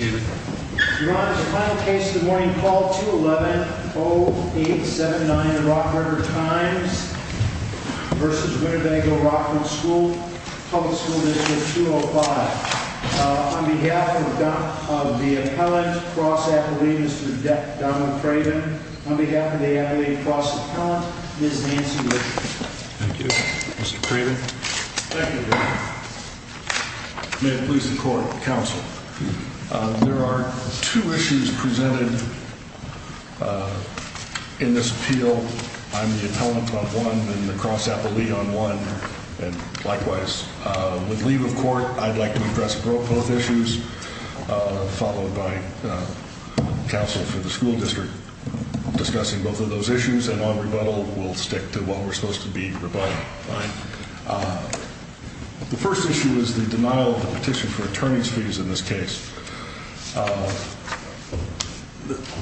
On behalf of the appellant, cross-appellate, Mr. Donald Craven, on behalf of the appellate cross-appellant, Ms. Nancy Littleton. Thank you. Mr. Craven. Thank you. May it please the court, counsel. There are two issues presented in this appeal. I'm the appellant on one and the cross-appellate on one. And likewise, with leave of court, I'd like to address both issues, followed by counsel for the school district discussing both of those issues. And on rebuttal, we'll stick to what we're supposed to be rebuttal. The first issue is the denial of the petition for attorney's fees in this case.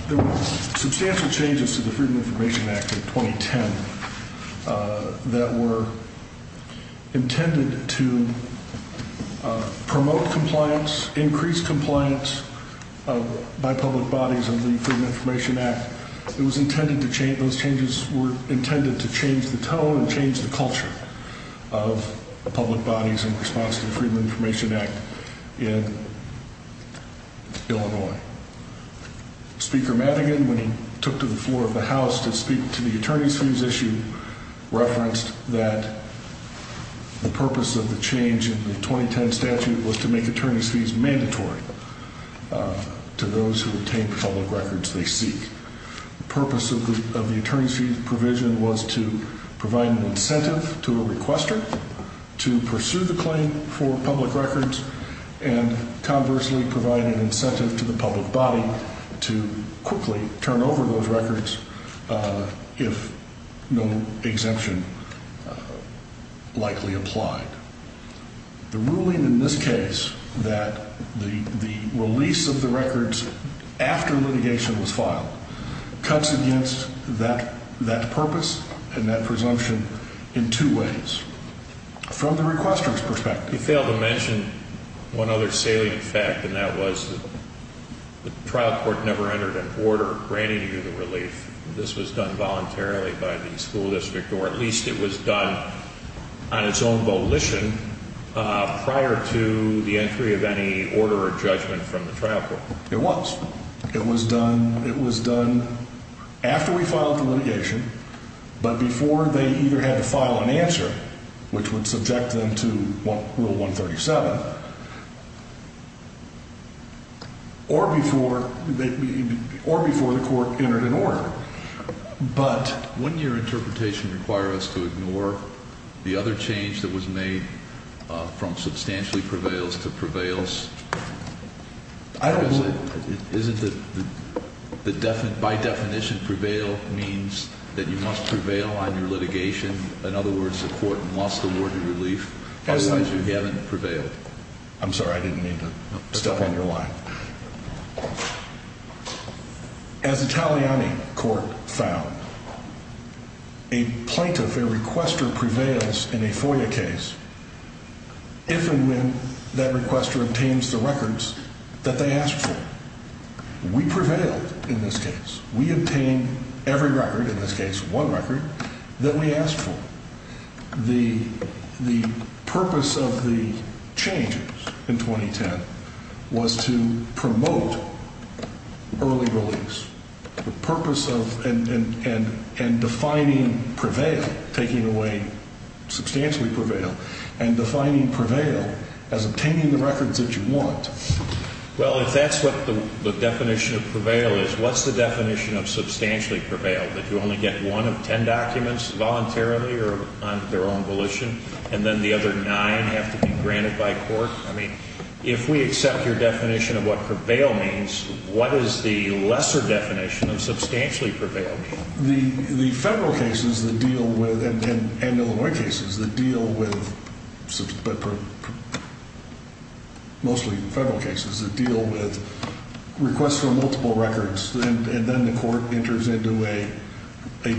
There were substantial changes to the Freedom of Information Act of 2010 that were intended to promote compliance, increase compliance by public bodies under the Freedom of Information Act. Those changes were intended to change the tone and change the culture of public bodies in response to the Freedom of Information Act in Illinois. Speaker Madigan, when he took to the floor of the House to speak to the attorney's fees issue, referenced that the purpose of the change in the 2010 statute was to make attorney's fees mandatory to those who obtain public records they seek. The purpose of the attorney's fees provision was to provide an incentive to a requester to pursue the claim for public records and, conversely, provide an incentive to the public body to quickly turn over those records if no exemption likely applied. The ruling in this case that the release of the records after litigation was filed cuts against that purpose and that presumption in two ways. From the requester's perspective. You failed to mention one other salient fact, and that was the trial court never entered an order granting you the relief. This was done voluntarily by the school district, or at least it was done on its own volition prior to the entry of any order or judgment from the trial court. It was done after we filed the litigation, but before they either had to file an answer, which would subject them to Rule 137, or before the court entered an order. Wouldn't your interpretation require us to ignore the other change that was made from substantially prevails to prevails? By definition, prevail means that you must prevail on your litigation. In other words, the court must award you relief otherwise you haven't prevailed. I'm sorry. I didn't mean to step on your line. As Italiani court found. A plaintiff, a requester prevails in a FOIA case. If and when that requester obtains the records that they asked for. We prevailed in this case. We obtained every record in this case, one record that we asked for. The purpose of the changes in 2010 was to promote early release. The purpose of and defining prevail, taking away substantially prevail, and defining prevail as obtaining the records that you want. Well, if that's what the definition of prevail is, what's the definition of substantially prevail? That you only get one of ten documents voluntarily or on their own volition, and then the other nine have to be granted by court? I mean, if we accept your definition of what prevail means, what is the lesser definition of substantially prevail? The federal cases that deal with, and Illinois cases that deal with, mostly federal cases, that deal with requests for multiple records. And then the court enters into a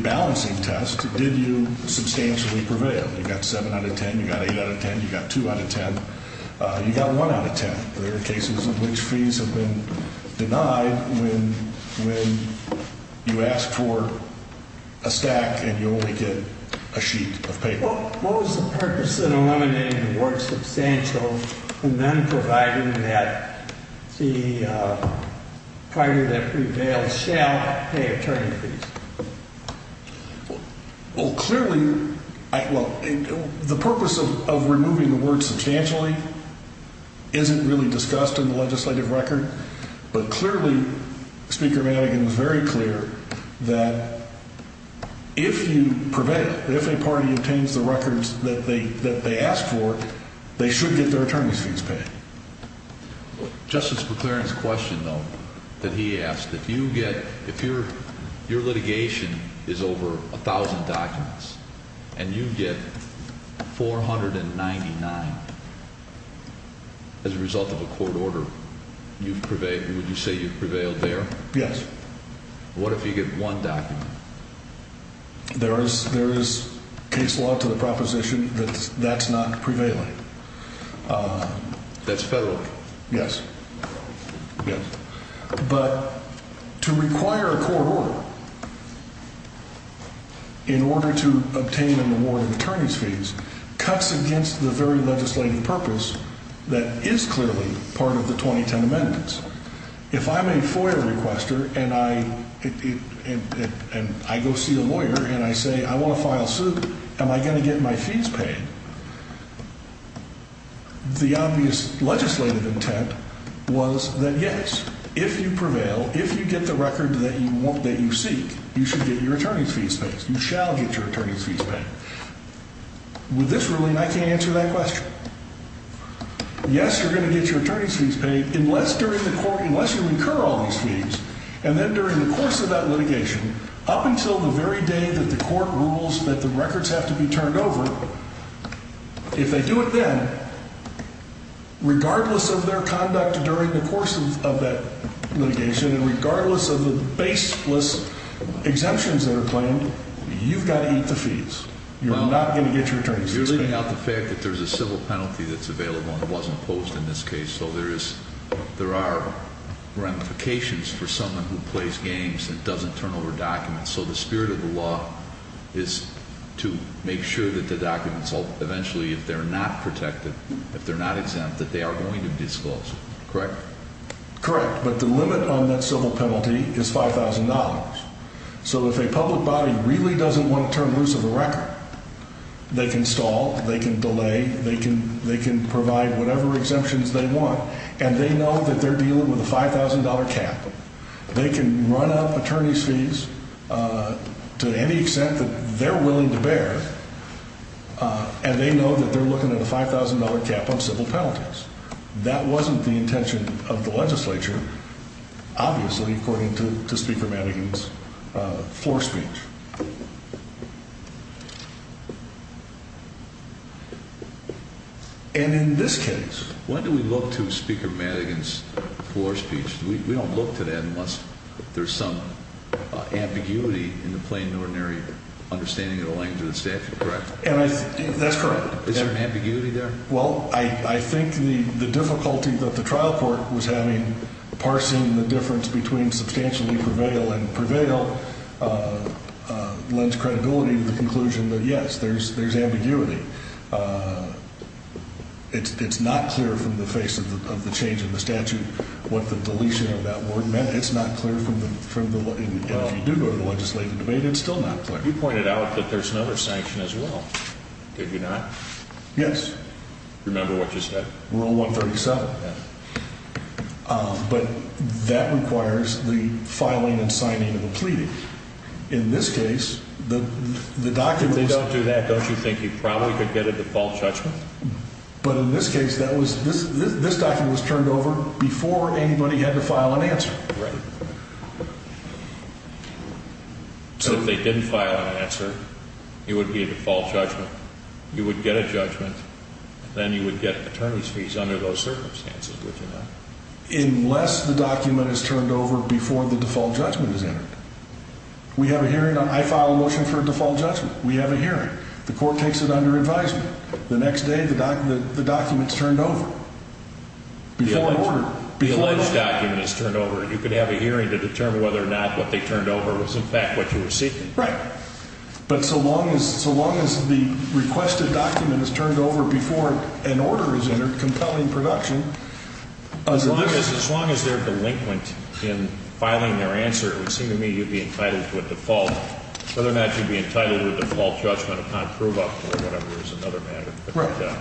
balancing test. Did you substantially prevail? You got seven out of ten. You got eight out of ten. You got two out of ten. You got one out of ten. There are cases in which fees have been denied when you ask for a stack and you only get a sheet of paper. What was the purpose in eliminating the word substantial and then providing that the party that prevails shall pay attorney fees? Well, clearly, the purpose of removing the word substantially isn't really discussed in the legislative record. But clearly, Speaker Madigan is very clear that if you prevail, if a party obtains the records that they ask for, they should get their attorney's fees paid. Justice McClaren's question, though, that he asked, if your litigation is over 1,000 documents and you get 499 as a result of a court order, would you say you've prevailed there? Yes. What if you get one document? There is case law to the proposition that that's not prevailing. That's federal? Yes. But to require a court order in order to obtain an award of attorney's fees cuts against the very legislative purpose that is clearly part of the 2010 amendments. If I'm a FOIA requester and I go see a lawyer and I say I want to file suit, am I going to get my fees paid? The obvious legislative intent was that, yes, if you prevail, if you get the record that you seek, you should get your attorney's fees paid. You shall get your attorney's fees paid. With this ruling, I can't answer that question. Yes, you're going to get your attorney's fees paid unless you incur all these fees. And then during the course of that litigation, up until the very day that the court rules that the records have to be turned over, if they do it then, regardless of their conduct during the course of that litigation and regardless of the baseless exemptions that are claimed, you've got to eat the fees. You're not going to get your attorney's fees paid. You're sitting out the fact that there's a civil penalty that's available and it wasn't posed in this case. So there are ramifications for someone who plays games and doesn't turn over documents. So the spirit of the law is to make sure that the documents, eventually, if they're not protected, if they're not exempt, that they are going to be disclosed. Correct? Correct. But the limit on that civil penalty is $5,000. So if a public body really doesn't want to turn loose of the record, they can stall. They can delay. They can provide whatever exemptions they want. And they know that they're dealing with a $5,000 cap. They can run up attorney's fees to any extent that they're willing to bear. And they know that they're looking at a $5,000 cap on civil penalties. That wasn't the intention of the legislature, obviously, according to Speaker Madigan's floor speech. And in this case. When do we look to Speaker Madigan's floor speech? We don't look to that unless there's some ambiguity in the plain and ordinary understanding of the language of the statute. Correct? That's correct. Is there an ambiguity there? Well, I think the difficulty that the trial court was having, parsing the difference between substantially prevail and prevail, lends credibility to the conclusion that, yes, there's ambiguity. It's not clear from the face of the change in the statute what the deletion of that word meant. It's not clear from the legislative debate. It's still not clear. You pointed out that there's another sanction as well. Did you not? Yes. Remember what you said. Rule 137. Yeah. But that requires the filing and signing of the plea. In this case, the documents. If they don't do that, don't you think you probably could get a default judgment? But in this case, this document was turned over before anybody had to file an answer. Right. So if they didn't file an answer, it would be a default judgment. You would get a judgment. Then you would get attorney's fees under those circumstances, would you not? Unless the document is turned over before the default judgment is entered. We have a hearing. I file a motion for a default judgment. We have a hearing. The court takes it under advisement. The next day, the document's turned over. Before an order. The alleged document is turned over. You could have a hearing to determine whether or not what they turned over was, in fact, what you were seeking. Right. But so long as the requested document is turned over before an order is entered, compelling production. As long as they're delinquent in filing their answer, it would seem to me you'd be entitled to a default. Whether or not you'd be entitled to a default judgment upon prove-up or whatever is another matter. Right.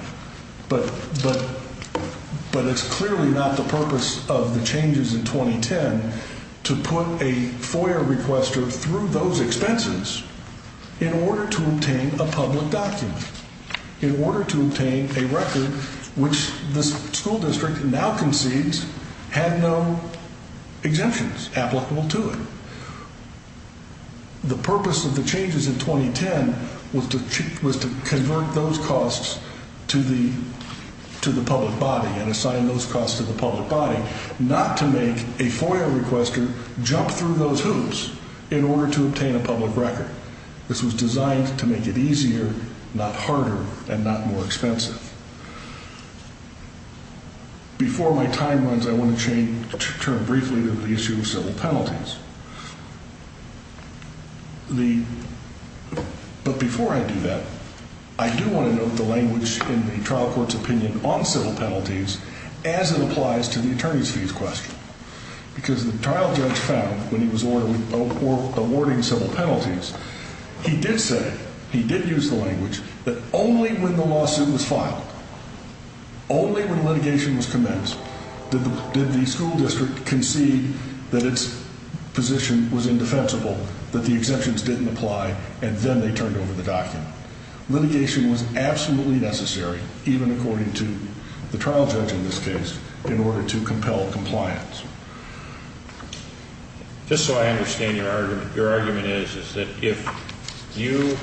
But it's clearly not the purpose of the changes in 2010 to put a FOIA requester through those expenses in order to obtain a public document. In order to obtain a record which the school district now concedes had no exemptions applicable to it. The purpose of the changes in 2010 was to convert those costs to the public body and assign those costs to the public body. Not to make a FOIA requester jump through those hoops in order to obtain a public record. This was designed to make it easier, not harder, and not more expensive. Before my time runs, I want to turn briefly to the issue of civil penalties. But before I do that, I do want to note the language in the trial court's opinion on civil penalties as it applies to the attorney's fees question. Because the trial judge found when he was awarding civil penalties, he did say, he did use the language, that only when the lawsuit was filed, only when litigation was commenced, did the school district concede that its position was indefensible, that the exemptions didn't apply, and then they turned over the document. Litigation was absolutely necessary, even according to the trial judge in this case, in order to compel compliance. Just so I understand your argument, your argument is that if you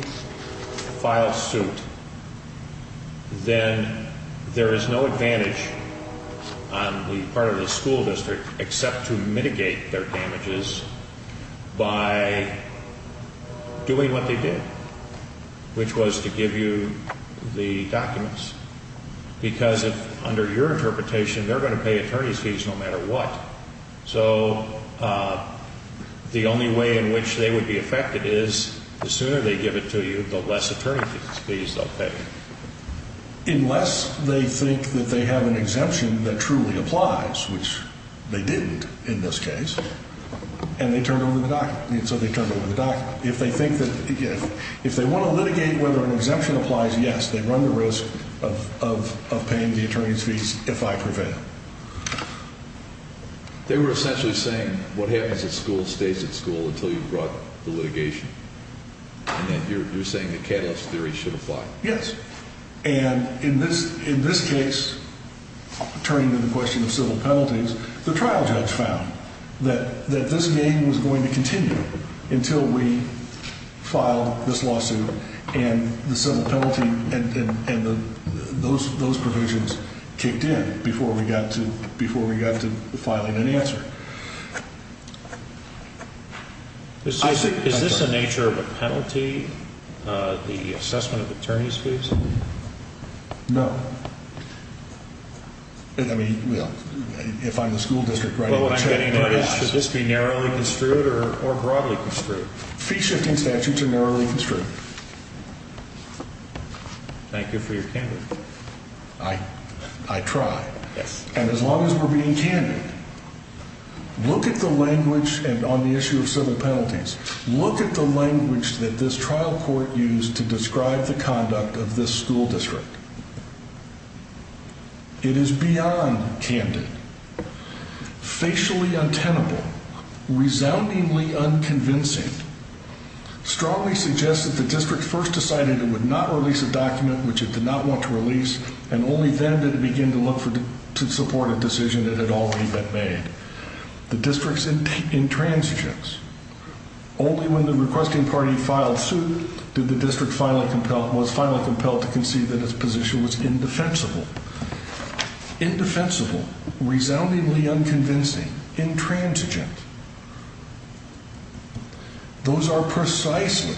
file suit, then there is no advantage on the part of the school district except to mitigate their damages by doing what they did, which was to give you the documents. Because under your interpretation, they're going to pay attorney's fees no matter what. So the only way in which they would be affected is the sooner they give it to you, the less attorney's fees they'll pay. Unless they think that they have an exemption that truly applies, which they didn't in this case, and they turned over the document. If they want to litigate whether an exemption applies, yes, they run the risk of paying the attorney's fees if I prevail. They were essentially saying what happens at school stays at school until you've brought the litigation. And then you're saying the catalyst theory should apply. Yes. And in this case, turning to the question of civil penalties, the trial judge found that this game was going to continue until we filed this lawsuit and the civil penalty and those provisions kicked in before we got to filing an answer. Is this a nature of a penalty, the assessment of attorney's fees? No. I mean, well, if I'm the school district, right? Well, what I'm getting at is should this be narrowly construed or broadly construed? Fee-shifting statutes are narrowly construed. Thank you for your candor. I try. Yes. And as long as we're being candid, look at the language on the issue of civil penalties. Look at the language that this trial court used to describe the conduct of this school district. It is beyond candid, facially untenable, resoundingly unconvincing, strongly suggests that the district first decided it would not release a document which it did not want to release, and only then did it begin to look to support a decision that had already been made. The district's intransigence. Only when the requesting party filed suit did the district was finally compelled to concede that its position was indefensible. Indefensible, resoundingly unconvincing, intransigent. Those are precisely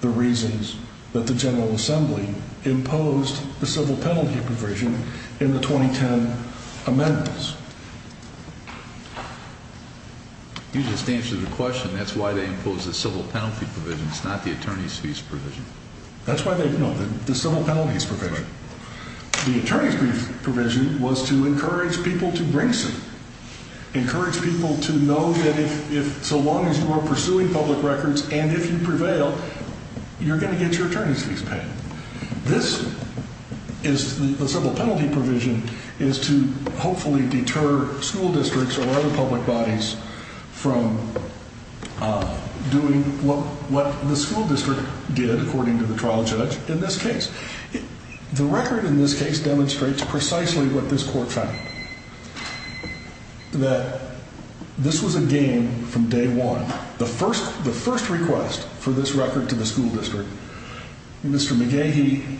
the reasons that the General Assembly imposed the civil penalty provision in the 2010 amendments. You just answered the question. That's why they imposed the civil penalty provision. It's not the attorney's fees provision. No, the civil penalties provision. The attorney's fees provision was to encourage people to bring something, encourage people to know that if so long as you are pursuing public records and if you prevail, you're going to get your attorney's fees paid. This is the civil penalty provision is to hopefully deter school districts or other public bodies from doing what the school district did, according to the trial judge, in this case. The record in this case demonstrates precisely what this court found. That this was a game from day one. The first request for this record to the school district, Mr. McGahee,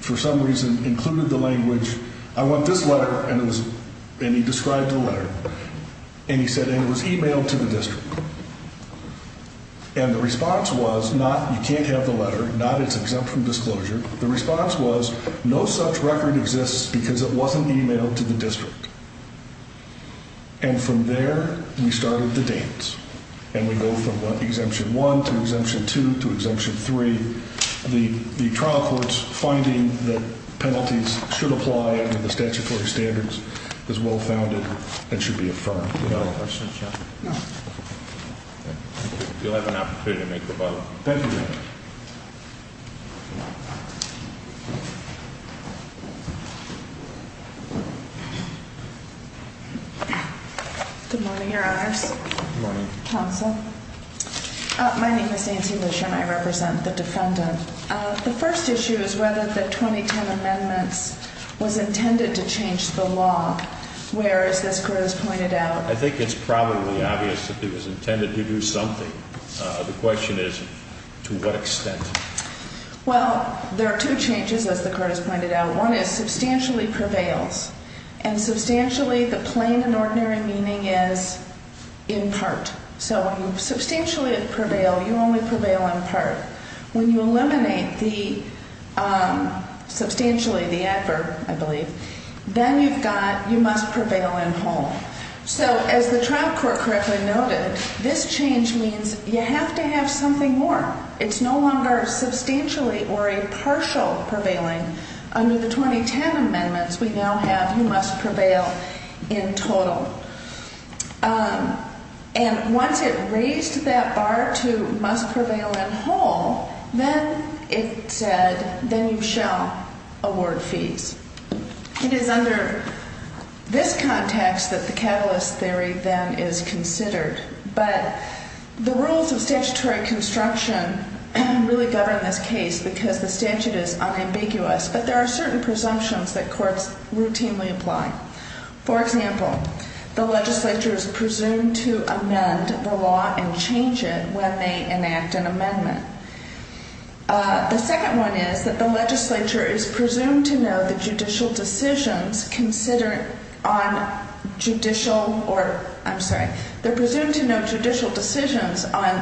for some reason, included the language, I want this letter, and he described the letter. And he said it was emailed to the district. And the response was not you can't have the letter, not it's exempt from disclosure. The response was no such record exists because it wasn't emailed to the district. And from there we started the dance. And we go from one exemption one to exemption two to exemption three. The trial court's finding that penalties should apply under the statutory standards is well founded and should be affirmed. You'll have an opportunity to make the vote. Thank you. Good morning, Your Honors. Good morning. Counsel. My name is Nancy Bush and I represent the defendant. The first issue is whether the 2010 amendments was intended to change the law. Whereas this grows pointed out. I think it's probably obvious that it was intended to do something. The question is to what extent? Well, there are two changes, as the court has pointed out. One is substantially prevails. And substantially, the plain and ordinary meaning is in part. So when you substantially prevail, you only prevail in part. When you eliminate the substantially, the advert, I believe, then you've got you must prevail in whole. So as the trial court correctly noted, this change means you have to have something more. It's no longer substantially or a partial prevailing. Under the 2010 amendments, we now have you must prevail in total. And once it raised that bar to must prevail in whole, then it said then you shall award fees. It is under this context that the catalyst theory then is considered. But the rules of statutory construction really govern this case because the statute is unambiguous. But there are certain presumptions that courts routinely apply. For example, the legislature is presumed to amend the law and change it when they enact an amendment. The second one is that the legislature is presumed to know the judicial decisions on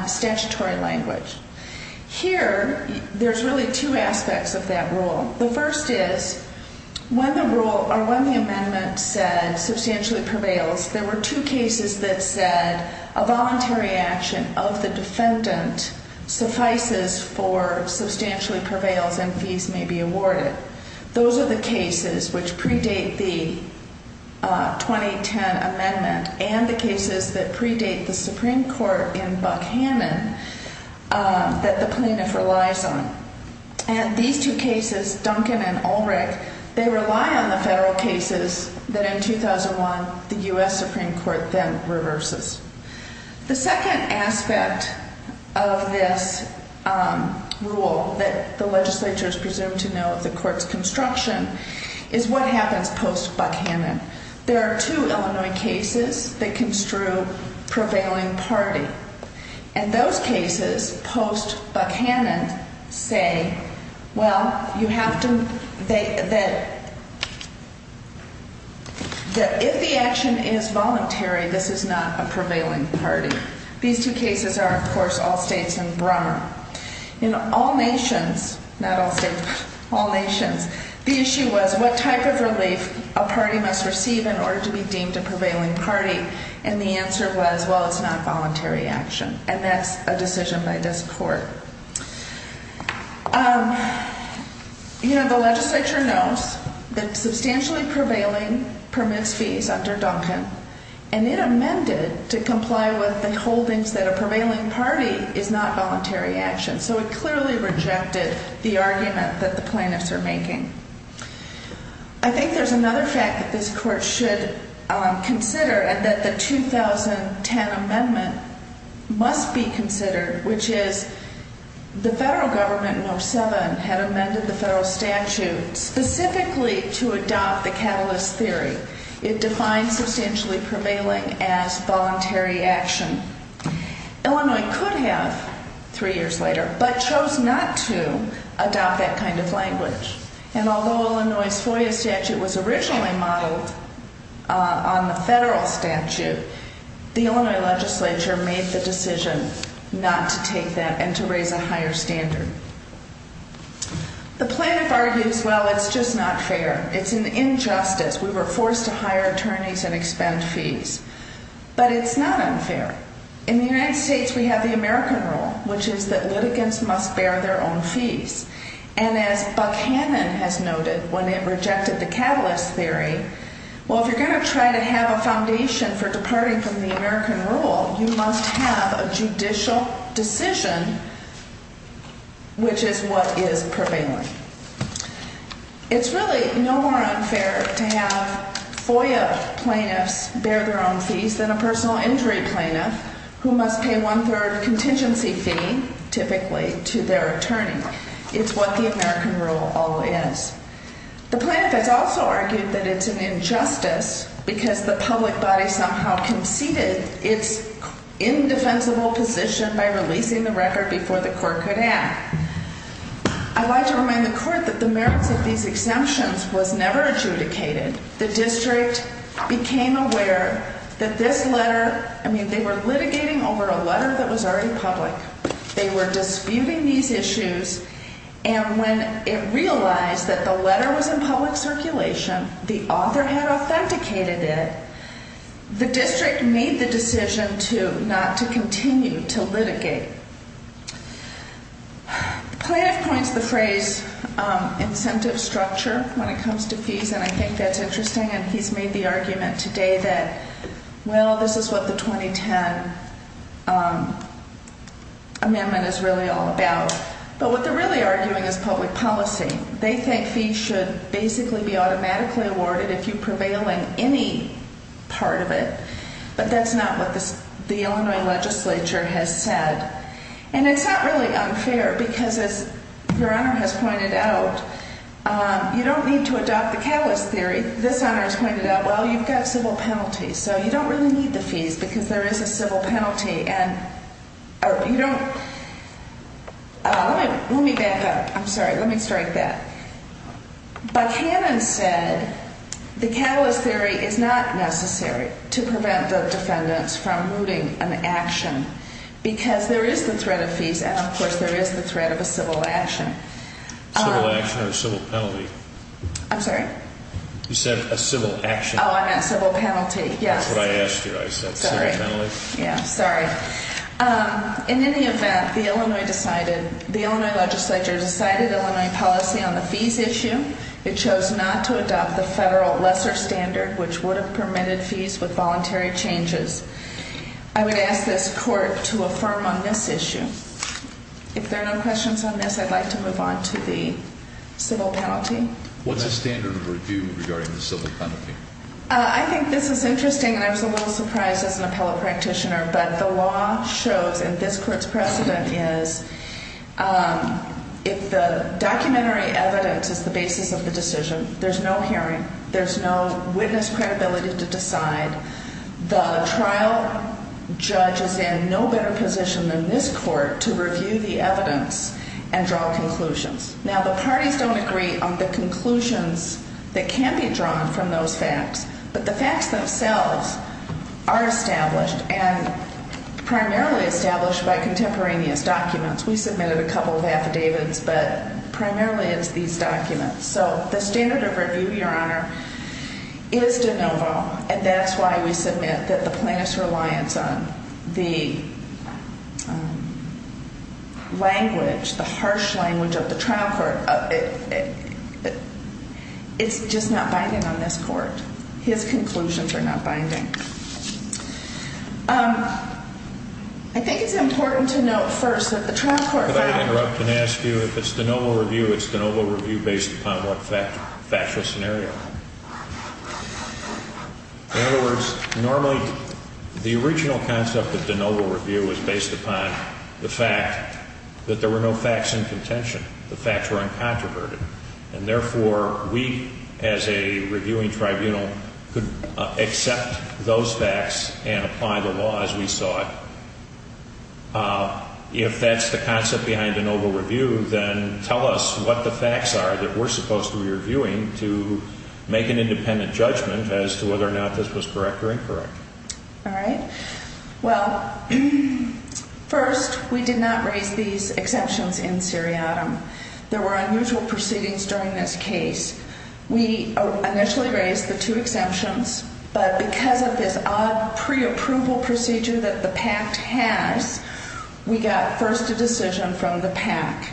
statutory language. Here, there's really two aspects of that rule. The first is when the rule or when the amendment said substantially prevails, there were two cases that said a voluntary action of the defendant suffices for substantially prevails and fees may be awarded. Those are the cases which predate the 2010 amendment and the cases that predate the Supreme Court in Buckhannon that the plaintiff relies on. And these two cases, Duncan and Ulrich, they rely on the federal cases that in 2001 the U.S. Supreme Court then reverses. The second aspect of this rule that the legislature is presumed to know of the court's construction is what happens post-Buckhannon. There are two Illinois cases that construe prevailing party. And those cases post-Buckhannon say, well, you have to, that if the action is voluntary, this is not a prevailing party. These two cases are, of course, all states and Brummer. In all nations, not all states, all nations, the issue was what type of relief a party must receive in order to be deemed a prevailing party. And the answer was, well, it's not voluntary action. And that's a decision by this court. You know, the legislature knows that substantially prevailing permits fees under Duncan. And it amended to comply with the holdings that a prevailing party is not voluntary action. So it clearly rejected the argument that the plaintiffs are making. I think there's another fact that this court should consider and that the 2010 amendment must be considered, which is the federal government in 07 had amended the federal statute specifically to adopt the catalyst theory. It defines substantially prevailing as voluntary action. Illinois could have three years later, but chose not to adopt that kind of language. And although Illinois' FOIA statute was originally modeled on the federal statute, the Illinois legislature made the decision not to take that and to raise a higher standard. The plaintiff argues, well, it's just not fair. It's an injustice. We were forced to hire attorneys and expend fees. But it's not unfair. In the United States, we have the American rule, which is that litigants must bear their own fees. And as Buckhannon has noted, when it rejected the catalyst theory, well, if you're going to try to have a foundation for departing from the American rule, you must have a judicial decision, which is what is prevailing. It's really no more unfair to have FOIA plaintiffs bear their own fees than a personal injury plaintiff, who must pay one-third contingency fee, typically, to their attorney. It's what the American rule always is. The plaintiff has also argued that it's an injustice because the public body somehow conceded its indefensible position by releasing the record before the court could act. I'd like to remind the court that the merits of these exemptions was never adjudicated. The district became aware that this letter, I mean, they were litigating over a letter that was already public. They were disputing these issues, and when it realized that the letter was in public circulation, the author had authenticated it, the district made the decision not to continue to litigate. The plaintiff points to the phrase incentive structure when it comes to fees, and I think that's interesting, and he's made the argument today that, well, this is what the 2010 amendment is really all about. But what they're really arguing is public policy. They think fees should basically be automatically awarded if you prevail in any part of it, but that's not what the Illinois legislature has said. And it's not really unfair because, as Your Honor has pointed out, you don't need to adopt the catalyst theory. This honor has pointed out, well, you've got civil penalties, so you don't really need the fees because there is a civil penalty, and you don't, let me back up. I'm sorry, let me strike that. But Hannon said the catalyst theory is not necessary to prevent the defendants from moving an action because there is the threat of fees and, of course, there is the threat of a civil action. Civil action or civil penalty? I'm sorry? You said a civil action. Oh, I meant civil penalty, yes. That's what I asked you. I said civil penalty. Yeah, sorry. In any event, the Illinois legislature decided Illinois policy on the fees issue. It chose not to adopt the federal lesser standard, which would have permitted fees with voluntary changes. I would ask this court to affirm on this issue. If there are no questions on this, I'd like to move on to the civil penalty. What's the standard of review regarding the civil penalty? I think this is interesting, and I was a little surprised as an appellate practitioner, but the law shows, and this court's precedent is, if the documentary evidence is the basis of the decision, there's no hearing, there's no witness credibility to decide, the trial judge is in no better position than this court to review the evidence and draw conclusions. Now, the parties don't agree on the conclusions that can be drawn from those facts, but the facts themselves are established and primarily established by contemporaneous documents. We submitted a couple of affidavits, but primarily it's these documents. So the standard of review, Your Honor, is de novo, and that's why we submit that the plaintiff's reliance on the language, the harsh language of the trial court, it's just not binding on this court. His conclusions are not binding. I think it's important to note first that the trial court found – Could I interrupt and ask you, if it's de novo review, it's de novo review based upon what factual scenario? In other words, normally the original concept of de novo review was based upon the fact that there were no facts in contention. The facts were uncontroverted. And therefore, we as a reviewing tribunal could accept those facts and apply the law as we saw it. If that's the concept behind de novo review, then tell us what the facts are that we're supposed to be reviewing to make an independent judgment as to whether or not this was correct or incorrect. All right. Well, first, we did not raise these exceptions in seriatim. There were unusual proceedings during this case. We initially raised the two exemptions, but because of this odd preapproval procedure that the PACT has, we got first a decision from the PACT.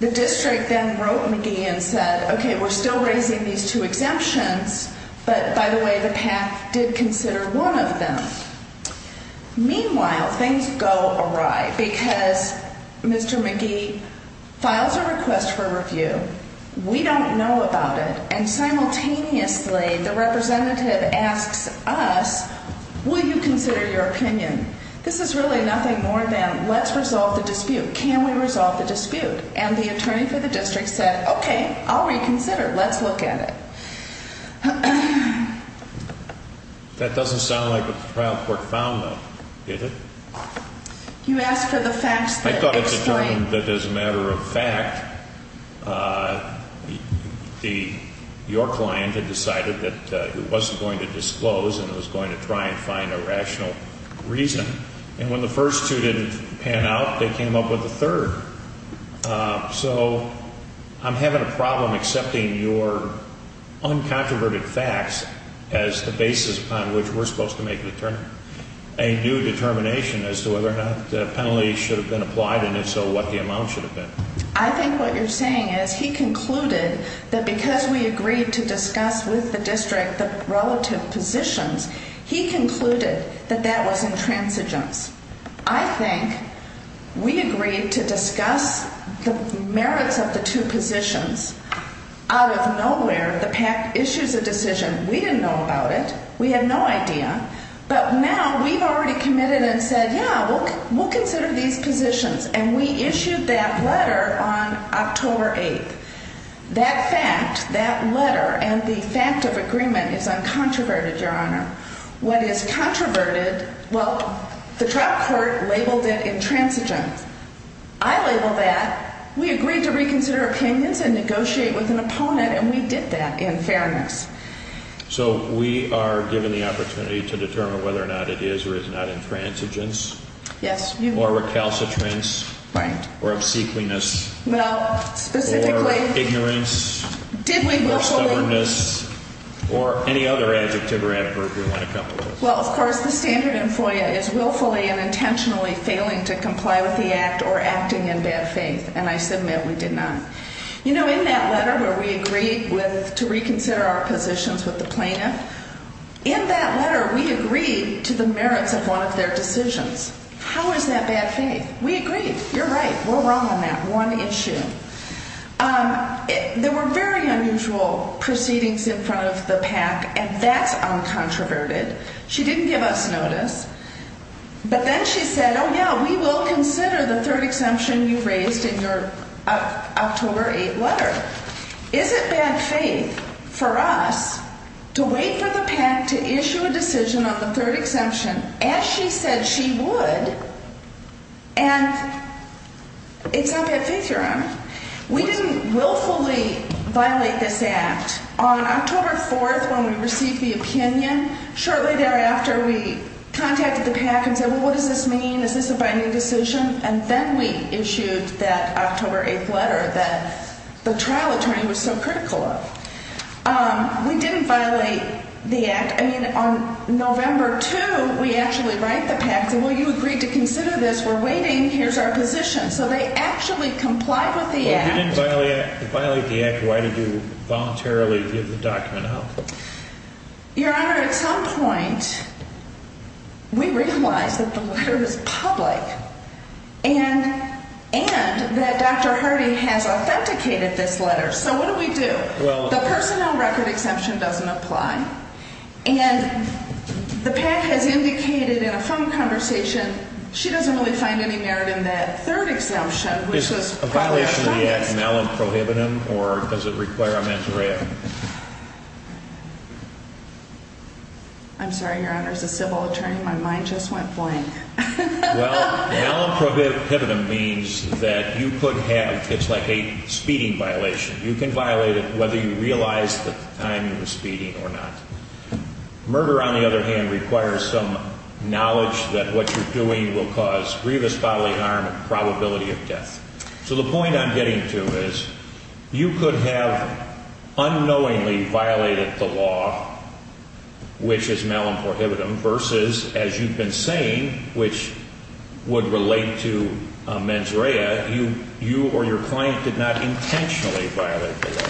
The district then wrote McGee and said, okay, we're still raising these two exemptions, but by the way, the PACT did consider one of them. Meanwhile, things go awry because Mr. McGee files a request for review. We don't know about it. And simultaneously, the representative asks us, will you consider your opinion? This is really nothing more than let's resolve the dispute. Can we resolve the dispute? And the attorney for the district said, okay, I'll reconsider. Let's look at it. That doesn't sound like what the trial court found, though, did it? You asked for the facts that explain. I thought it determined that as a matter of fact, your client had decided that it wasn't going to disclose and it was going to try and find a rational reason. And when the first two didn't pan out, they came up with the third. So I'm having a problem accepting your uncontroverted facts as the basis upon which we're supposed to make a new determination as to whether or not the penalty should have been applied and if so, what the amount should have been. I think what you're saying is he concluded that because we agreed to discuss with the district the relative positions, he concluded that that was intransigence. I think we agreed to discuss the merits of the two positions. Out of nowhere, the PACT issues a decision. We didn't know about it. We have no idea. But now we've already committed and said, yeah, we'll consider these positions. And we issued that letter on October 8th. That fact, that letter, and the fact of agreement is uncontroverted, your Honor. What is controverted, well, the trial court labeled it intransigence. I label that. We agreed to reconsider opinions and negotiate with an opponent, and we did that in fairness. So we are given the opportunity to determine whether or not it is or is not intransigence. Yes. Or recalcitrance. Right. Or obsequiousness. Well, specifically. Or ignorance. Did we willfully. Or stubbornness. Or any other adjective or adverb you want to come up with. Well, of course, the standard in FOIA is willfully and intentionally failing to comply with the act or acting in bad faith, and I submit we did not. You know, in that letter where we agreed to reconsider our positions with the plaintiff, in that letter we agreed to the merits of one of their decisions. How is that bad faith? We agreed. You're right. We're wrong on that one issue. There were very unusual proceedings in front of the PAC, and that's uncontroverted. She didn't give us notice. But then she said, oh, yeah, we will consider the third exemption you raised in your October 8th letter. Is it bad faith for us to wait for the PAC to issue a decision on the third exemption as she said she would? And it's not bad faith you're on. We didn't willfully violate this act. On October 4th when we received the opinion, shortly thereafter we contacted the PAC and said, well, what does this mean? Is this a binding decision? And then we issued that October 8th letter that the trial attorney was so critical of. We didn't violate the act. I mean, on November 2, we actually write the PAC saying, well, you agreed to consider this. We're waiting. Here's our position. So they actually complied with the act. Well, if you didn't violate the act, why did you voluntarily give the document out? Your Honor, at some point we realized that the letter was public and that Dr. Hardy has authenticated this letter. So what do we do? The personnel record exemption doesn't apply. And the PAC has indicated in a phone conversation she doesn't really find any merit in that third exemption. Is a violation of the act an element prohibitive or does it require a mens rea? I'm sorry, Your Honor. As a civil attorney, my mind just went blank. Well, an element prohibitive means that you could have, it's like a speeding violation. You can violate it whether you realize that the timing was speeding or not. Murder, on the other hand, requires some knowledge that what you're doing will cause grievous bodily harm and probability of death. So the point I'm getting to is you could have unknowingly violated the law, which is malum prohibitum, versus, as you've been saying, which would relate to mens rea, you or your client did not intentionally violate the law.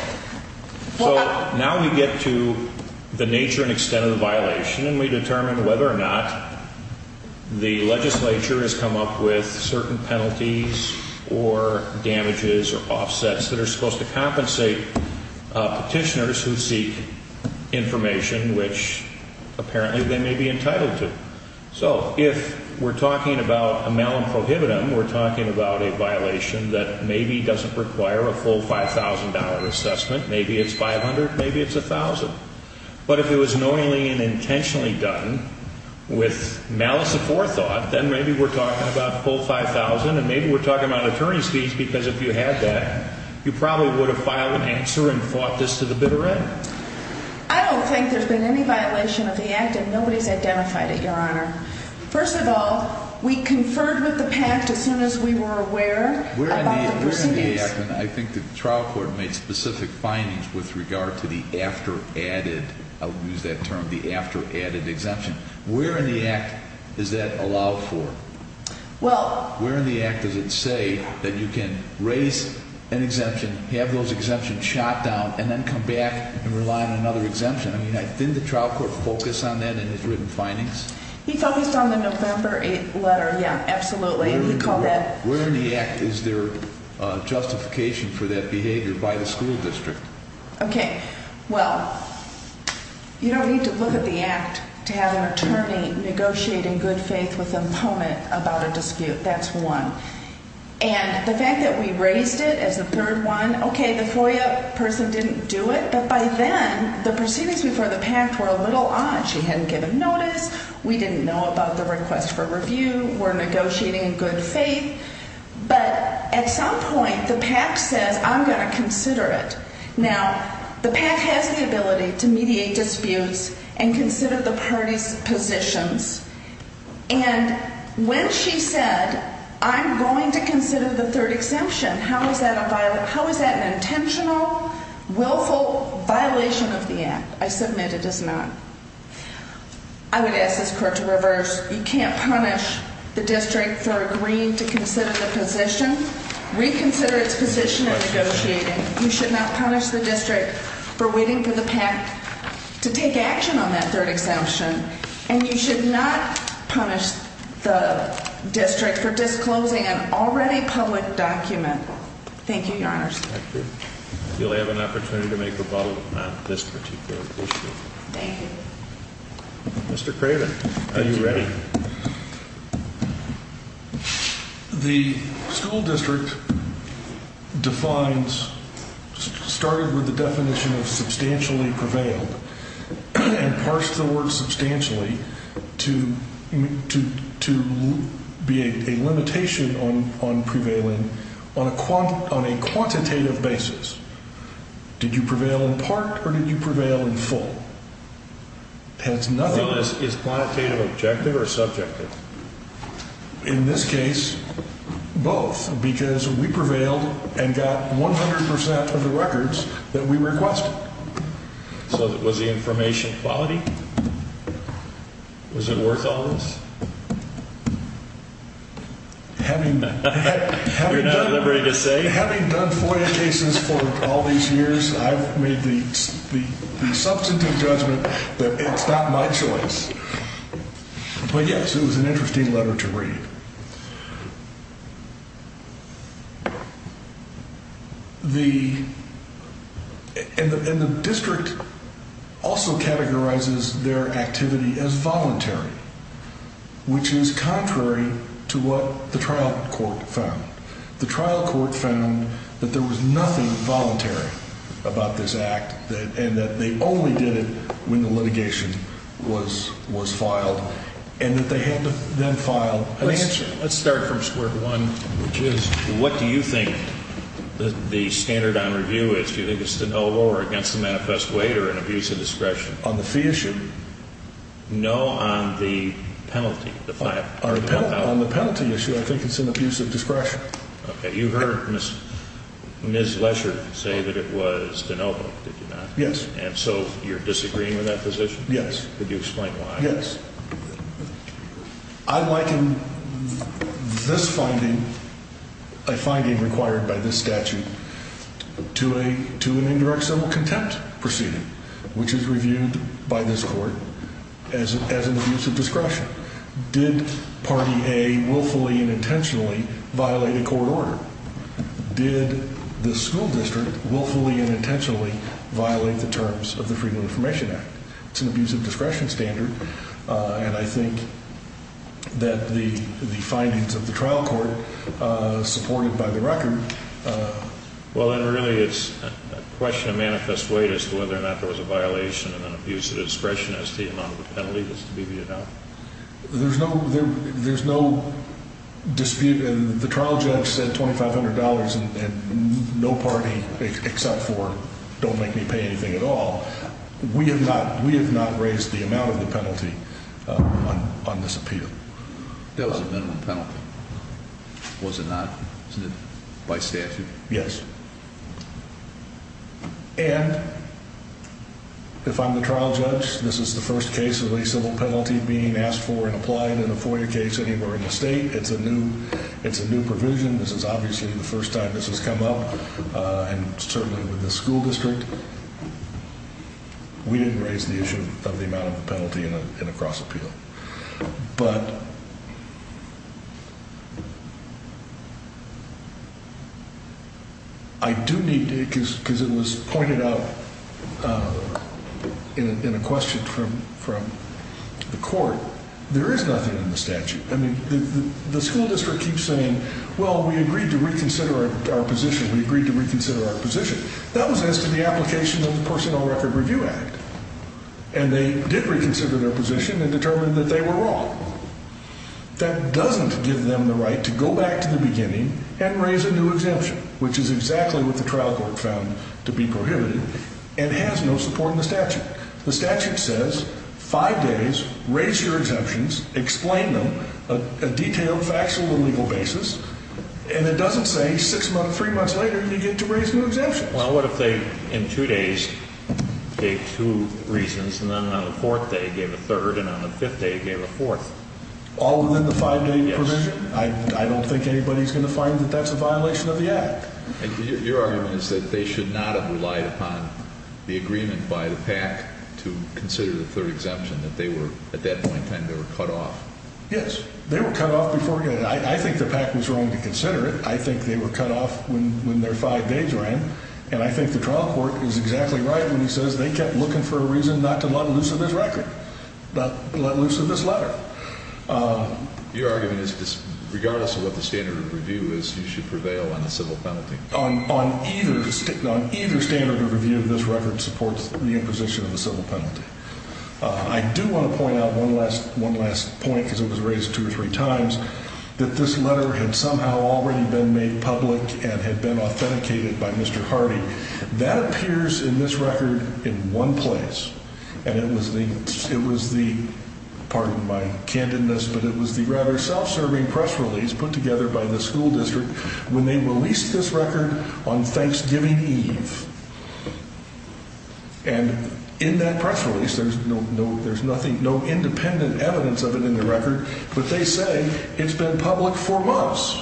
So now we get to the nature and extent of the violation and we determine whether or not the legislature has come up with certain penalties or damages or offsets that are supposed to compensate petitioners who seek information which apparently they may be entitled to. So if we're talking about a malum prohibitum, we're talking about a violation that maybe doesn't require a full $5,000 assessment. Maybe it's $500, maybe it's $1,000. But if it was knowingly and intentionally done with malice aforethought, then maybe we're talking about full $5,000 and maybe we're talking about attorney's fees because if you had that, you probably would have filed an answer and fought this to the bitter end. I don't think there's been any violation of the act and nobody's identified it, Your Honor. First of all, we conferred with the pact as soon as we were aware about the proceedings. I think the trial court made specific findings with regard to the after added, I'll use that term, the after added exemption. Where in the act is that allowed for? Well. Where in the act does it say that you can raise an exemption, have those exemptions shot down, and then come back and rely on another exemption? I mean, didn't the trial court focus on that in its written findings? He focused on the November 8th letter, yeah, absolutely. He called that. Where in the act is there justification for that behavior by the school district? Okay. Well, you don't need to look at the act to have an attorney negotiating good faith with an opponent about a dispute. That's one. And the fact that we raised it as the third one, okay, the FOIA person didn't do it, but by then the proceedings before the pact were a little odd. She hadn't given notice. We didn't know about the request for review. We're negotiating in good faith. But at some point the pact says I'm going to consider it. Now, the pact has the ability to mediate disputes and consider the parties' positions. And when she said I'm going to consider the third exemption, how is that an intentional, willful violation of the act? I submit it is not. I would ask this court to reverse. You can't punish the district for agreeing to consider the position, reconsider its position of negotiating. You should not punish the district for waiting for the pact to take action on that third exemption. And you should not punish the district for disclosing an already public document. Thank you, Your Honors. You'll have an opportunity to make rebuttal on this particular issue. Thank you. Mr. Craven, are you ready? The school district defines, started with the definition of substantially prevailed and parsed the word substantially to be a limitation on prevailing on a quantitative basis. Did you prevail in part or did you prevail in full? Well, is quantitative objective or subjective? In this case, both, because we prevailed and got 100 percent of the records that we requested. So was the information quality? Was it worth all this? Having done FOIA cases for all these years, I've made the substantive judgment that it's not my choice. But, yes, it was an interesting letter to read. The district also categorizes their activity as voluntary, which is contrary to what the trial court found. The trial court found that there was nothing voluntary about this act and that they only did it when the litigation was filed and that they had to then file an answer. Let's start from square one, which is, what do you think the standard on review is? Do you think it's a no or against the manifest weight or an abuse of discretion? On the fee issue? No, on the penalty. On the penalty issue, I think it's an abuse of discretion. Okay, you heard Ms. Lesher say that it was de novo, did you not? Yes. And so you're disagreeing with that position? Yes. Could you explain why? Yes. I liken this finding, a finding required by this statute, to an indirect civil contempt proceeding, which is reviewed by this court as an abuse of discretion. Did party A willfully and intentionally violate a court order? Did the school district willfully and intentionally violate the terms of the Freedom of Information Act? It's an abuse of discretion standard, and I think that the findings of the trial court supported by the record. Well, then really it's a question of manifest weight as to whether or not there was a violation of an abuse of discretion as to the amount of the penalty that's to be viewed now. There's no dispute. The trial judge said $2,500 and no party except for don't make me pay anything at all. We have not raised the amount of the penalty on this appeal. There was a minimum penalty, was it not, by statute? Yes. And if I'm the trial judge, this is the first case of a civil penalty being asked for and applied in a FOIA case anywhere in the state. It's a new provision. This is obviously the first time this has come up, and certainly with the school district. We didn't raise the issue of the amount of the penalty in a cross appeal. But I do need to, because it was pointed out in a question from the court, there is nothing in the statute. I mean, the school district keeps saying, well, we agreed to reconsider our position. We agreed to reconsider our position. That was as to the application of the Personnel Record Review Act, and they did reconsider their position and determined that they were wrong. That doesn't give them the right to go back to the beginning and raise a new exemption, which is exactly what the trial court found to be prohibited and has no support in the statute. The statute says, five days, raise your exemptions, explain them, a detailed factual and legal basis, and it doesn't say six months, three months later, you get to raise new exemptions. Well, what if they, in two days, gave two reasons, and then on the fourth day gave a third, and on the fifth day gave a fourth? All within the five-day provision? Yes. I don't think anybody's going to find that that's a violation of the Act. Your argument is that they should not have relied upon the agreement by the PAC to consider the third exemption, that they were, at that point in time, they were cut off. Yes. They were cut off before. I think the PAC was wrong to consider it. I think they were cut off when their five days ran, and I think the trial court is exactly right when he says they kept looking for a reason not to let loose of this record, not let loose of this letter. Your argument is regardless of what the standard of review is, you should prevail on the civil penalty. On either standard of review, this record supports the imposition of the civil penalty. I do want to point out one last point, because it was raised two or three times, that this letter had somehow already been made public and had been authenticated by Mr. Hardy. That appears in this record in one place, and it was the, pardon my candidness, but it was the rather self-serving press release put together by the school district when they released this record on Thanksgiving Eve. And in that press release, there's no independent evidence of it in the record, but they say it's been public for months.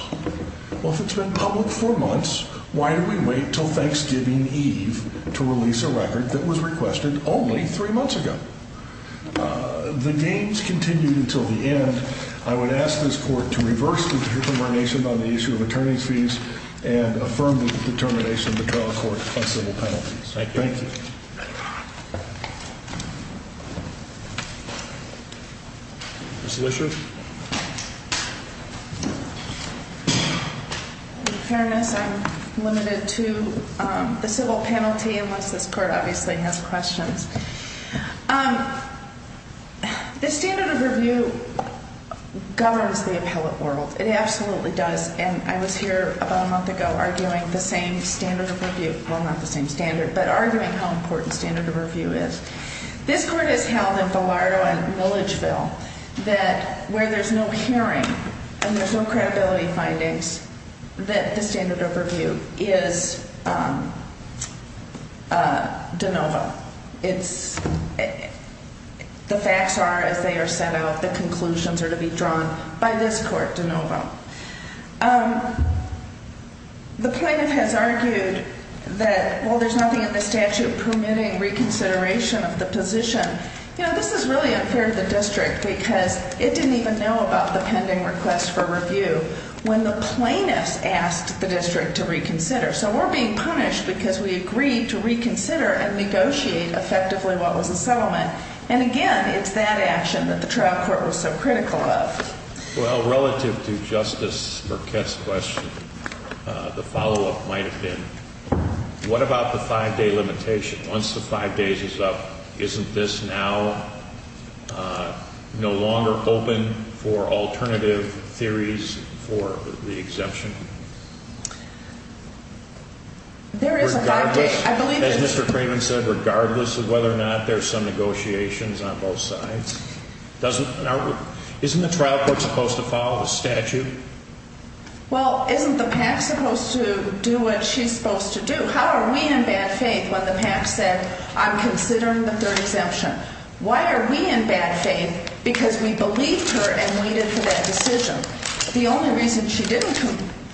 Well, if it's been public for months, why do we wait until Thanksgiving Eve to release a record that was requested only three months ago? The games continued until the end. I would ask this court to reverse the determination on the issue of attorney's fees and affirm the determination of the trial court on civil penalties. Thank you. Thank you. Ms. Lisher? In fairness, I'm limited to the civil penalty unless this court obviously has questions. The standard of review governs the appellate world. It absolutely does. And I was here about a month ago arguing the same standard of review. Well, not the same standard, but arguing how important standard of review is. This court has held in Bilardo and Milledgeville that where there's no hearing and there's no credibility findings, that the standard of review is de novo. The facts are as they are set out. The conclusions are to be drawn by this court, de novo. The plaintiff has argued that, well, there's nothing in the statute permitting reconsideration of the position. You know, this is really unfair to the district because it didn't even know about the pending request for review when the plaintiff asked the district to reconsider. So we're being punished because we agreed to reconsider and negotiate effectively what was a settlement. And, again, it's that action that the trial court was so critical of. Well, relative to Justice Burkett's question, the follow-up might have been, what about the five-day limitation? Once the five days is up, isn't this now no longer open for alternative theories for the exemption? As Mr. Craven said, regardless of whether or not there's some negotiations on both sides, isn't the trial court supposed to follow the statute? Well, isn't the PAC supposed to do what she's supposed to do? How are we in bad faith when the PAC said, I'm considering the third exemption? Why are we in bad faith? Because we believed her and waited for that decision. The only reason she didn't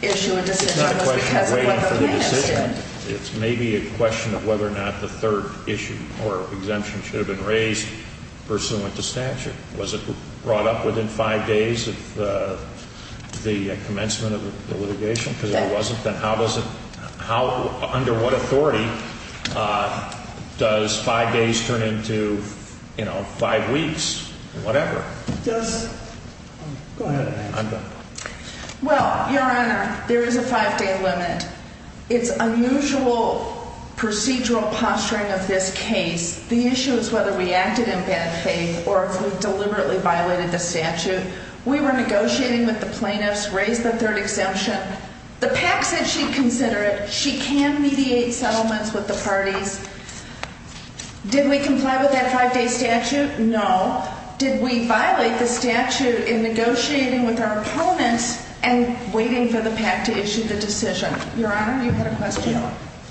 issue a decision was because of what the plaintiffs did. It's not a question of waiting for the decision. It's maybe a question of whether or not the third issue or exemption should have been raised pursuant to statute. Was it brought up within five days of the commencement of the litigation? If it wasn't, then how does it – under what authority does five days turn into, you know, five weeks or whatever? Go ahead, Amanda. Well, Your Honor, there is a five-day limit. It's unusual procedural posturing of this case. The issue is whether we acted in bad faith or if we deliberately violated the statute. We were negotiating with the plaintiffs, raised the third exemption. The PAC said she'd consider it. She can mediate settlements with the parties. Did we comply with that five-day statute? No. Did we violate the statute in negotiating with our opponents and waiting for the PAC to issue the decision? Your Honor, you had a question?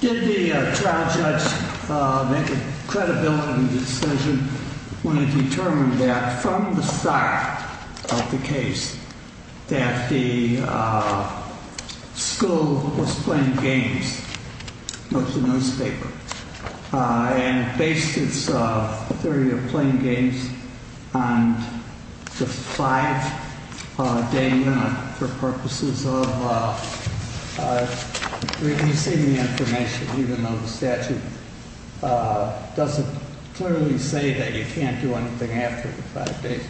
Did the trial judge make a credibility decision when it determined that from the start of the case that the school was playing games, most of the newspaper, and based its theory of playing games on the five-day limit for purposes of releasing the information, even though the statute doesn't clearly say that you can't do anything after the five days.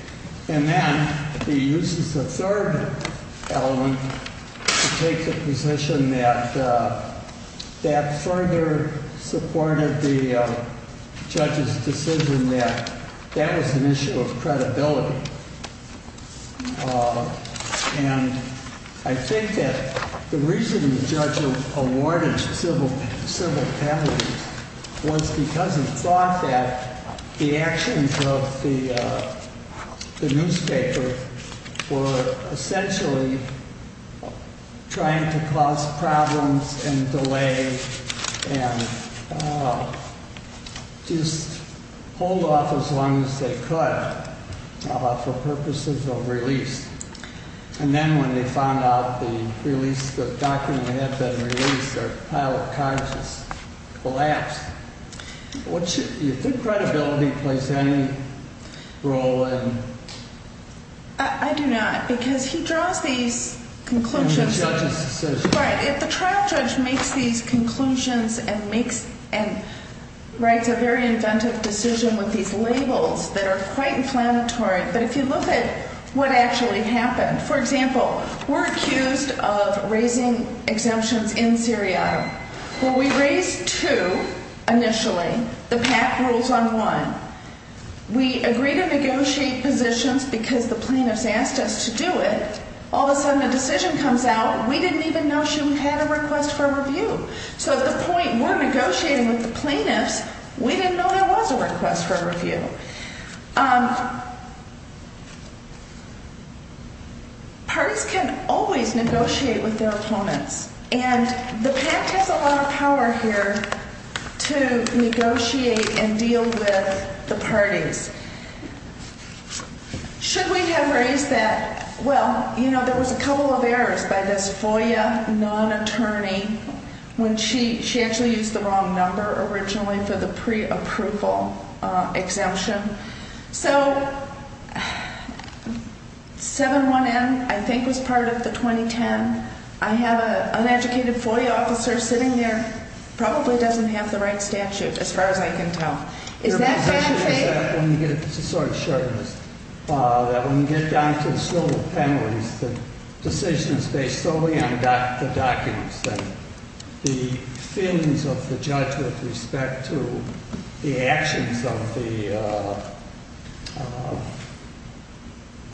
And then he uses the third element to take the position that that further supported the judge's decision that that was an issue of credibility. And I think that the reason the judge awarded civil penalties was because he thought that the actions of the newspaper were essentially trying to cause problems and delay and just hold off as long as they could. But for purposes of release. And then when they found out the release, the document had been released, their pilot car just collapsed. Do you think credibility plays any role in? I do not. Because he draws these conclusions. In the judge's decision. If the trial judge makes these conclusions and writes a very inventive decision with these labels that are quite inflammatory, but if you look at what actually happened. For example, we're accused of raising exemptions in Seriato. Well, we raised two initially. The PAC rules on one. We agreed to negotiate positions because the plaintiffs asked us to do it. All of a sudden a decision comes out and we didn't even know she had a request for review. So at the point we're negotiating with the plaintiffs, we didn't know there was a request for review. Parties can always negotiate with their opponents. And the PAC has a lot of power here to negotiate and deal with the parties. Should we have raised that? Well, you know, there was a couple of errors by this FOIA non-attorney when she actually used the wrong number originally for the pre-approval exemption. So 7-1-N I think was part of the 2010. I have an uneducated FOIA officer sitting there, probably doesn't have the right statute as far as I can tell. Your position is that when you get down to the school of penalties, the decision is based solely on the documents, that the feelings of the judge with respect to the actions of the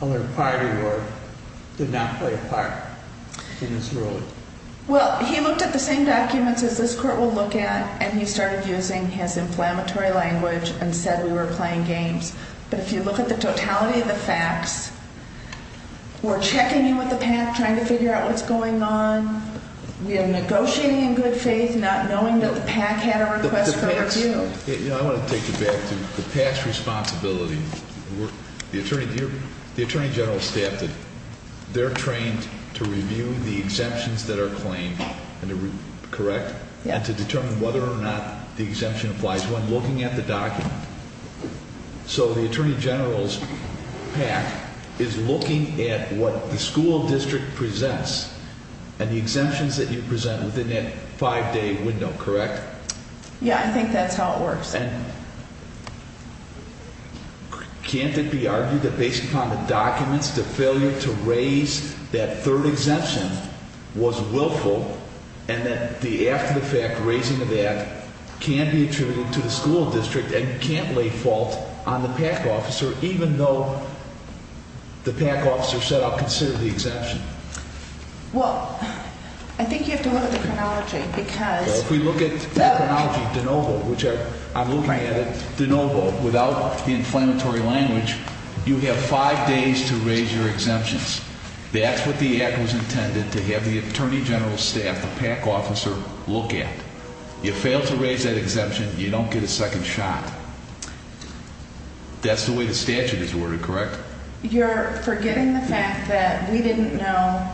other party did not play a part in this ruling? Well, he looked at the same documents as this court will look at and he started using his inflammatory language and said we were playing games. But if you look at the totality of the facts, we're checking in with the PAC, trying to figure out what's going on. We are negotiating in good faith, not knowing that the PAC had a request for review. I want to take you back to the past responsibility. The Attorney General staff, they're trained to review the exemptions that are claimed, correct? And to determine whether or not the exemption applies when looking at the document. So the Attorney General's PAC is looking at what the school district presents and the exemptions that you present within that five-day window, correct? Yeah, I think that's how it works. Can't it be argued that based upon the documents, the failure to raise that third exemption was willful, and that the after-the-fact raising of that can be attributed to the school district and can't lay fault on the PAC officer, even though the PAC officer set out to consider the exemption? Well, I think you have to look at the chronology because... If we look at that chronology, de novo, which I'm looking at it, de novo, without the inflammatory language, you have five days to raise your exemptions. That's what the act was intended to have the Attorney General's staff, the PAC officer, look at. You fail to raise that exemption, you don't get a second shot. That's the way the statute is ordered, correct? You're forgetting the fact that we didn't know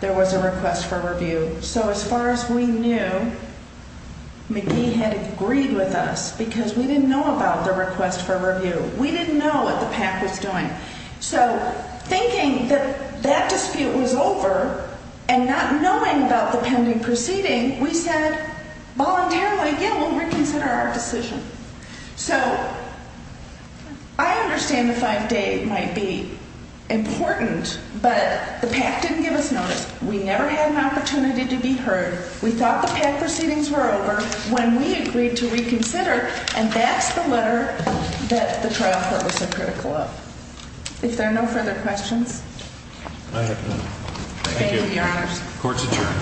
there was a request for review. So as far as we knew, McGee had agreed with us because we didn't know about the request for review. We didn't know what the PAC was doing. So thinking that that dispute was over and not knowing about the pending proceeding, we said voluntarily, yeah, we'll reconsider our decision. So I understand the five-day might be important, but the PAC didn't give us notice. We never had an opportunity to be heard. We thought the PAC proceedings were over when we agreed to reconsider, and that's the letter that the trial court was so critical of. If there are no further questions? I have none. Thank you. Thank you, Your Honors. Court's adjourned.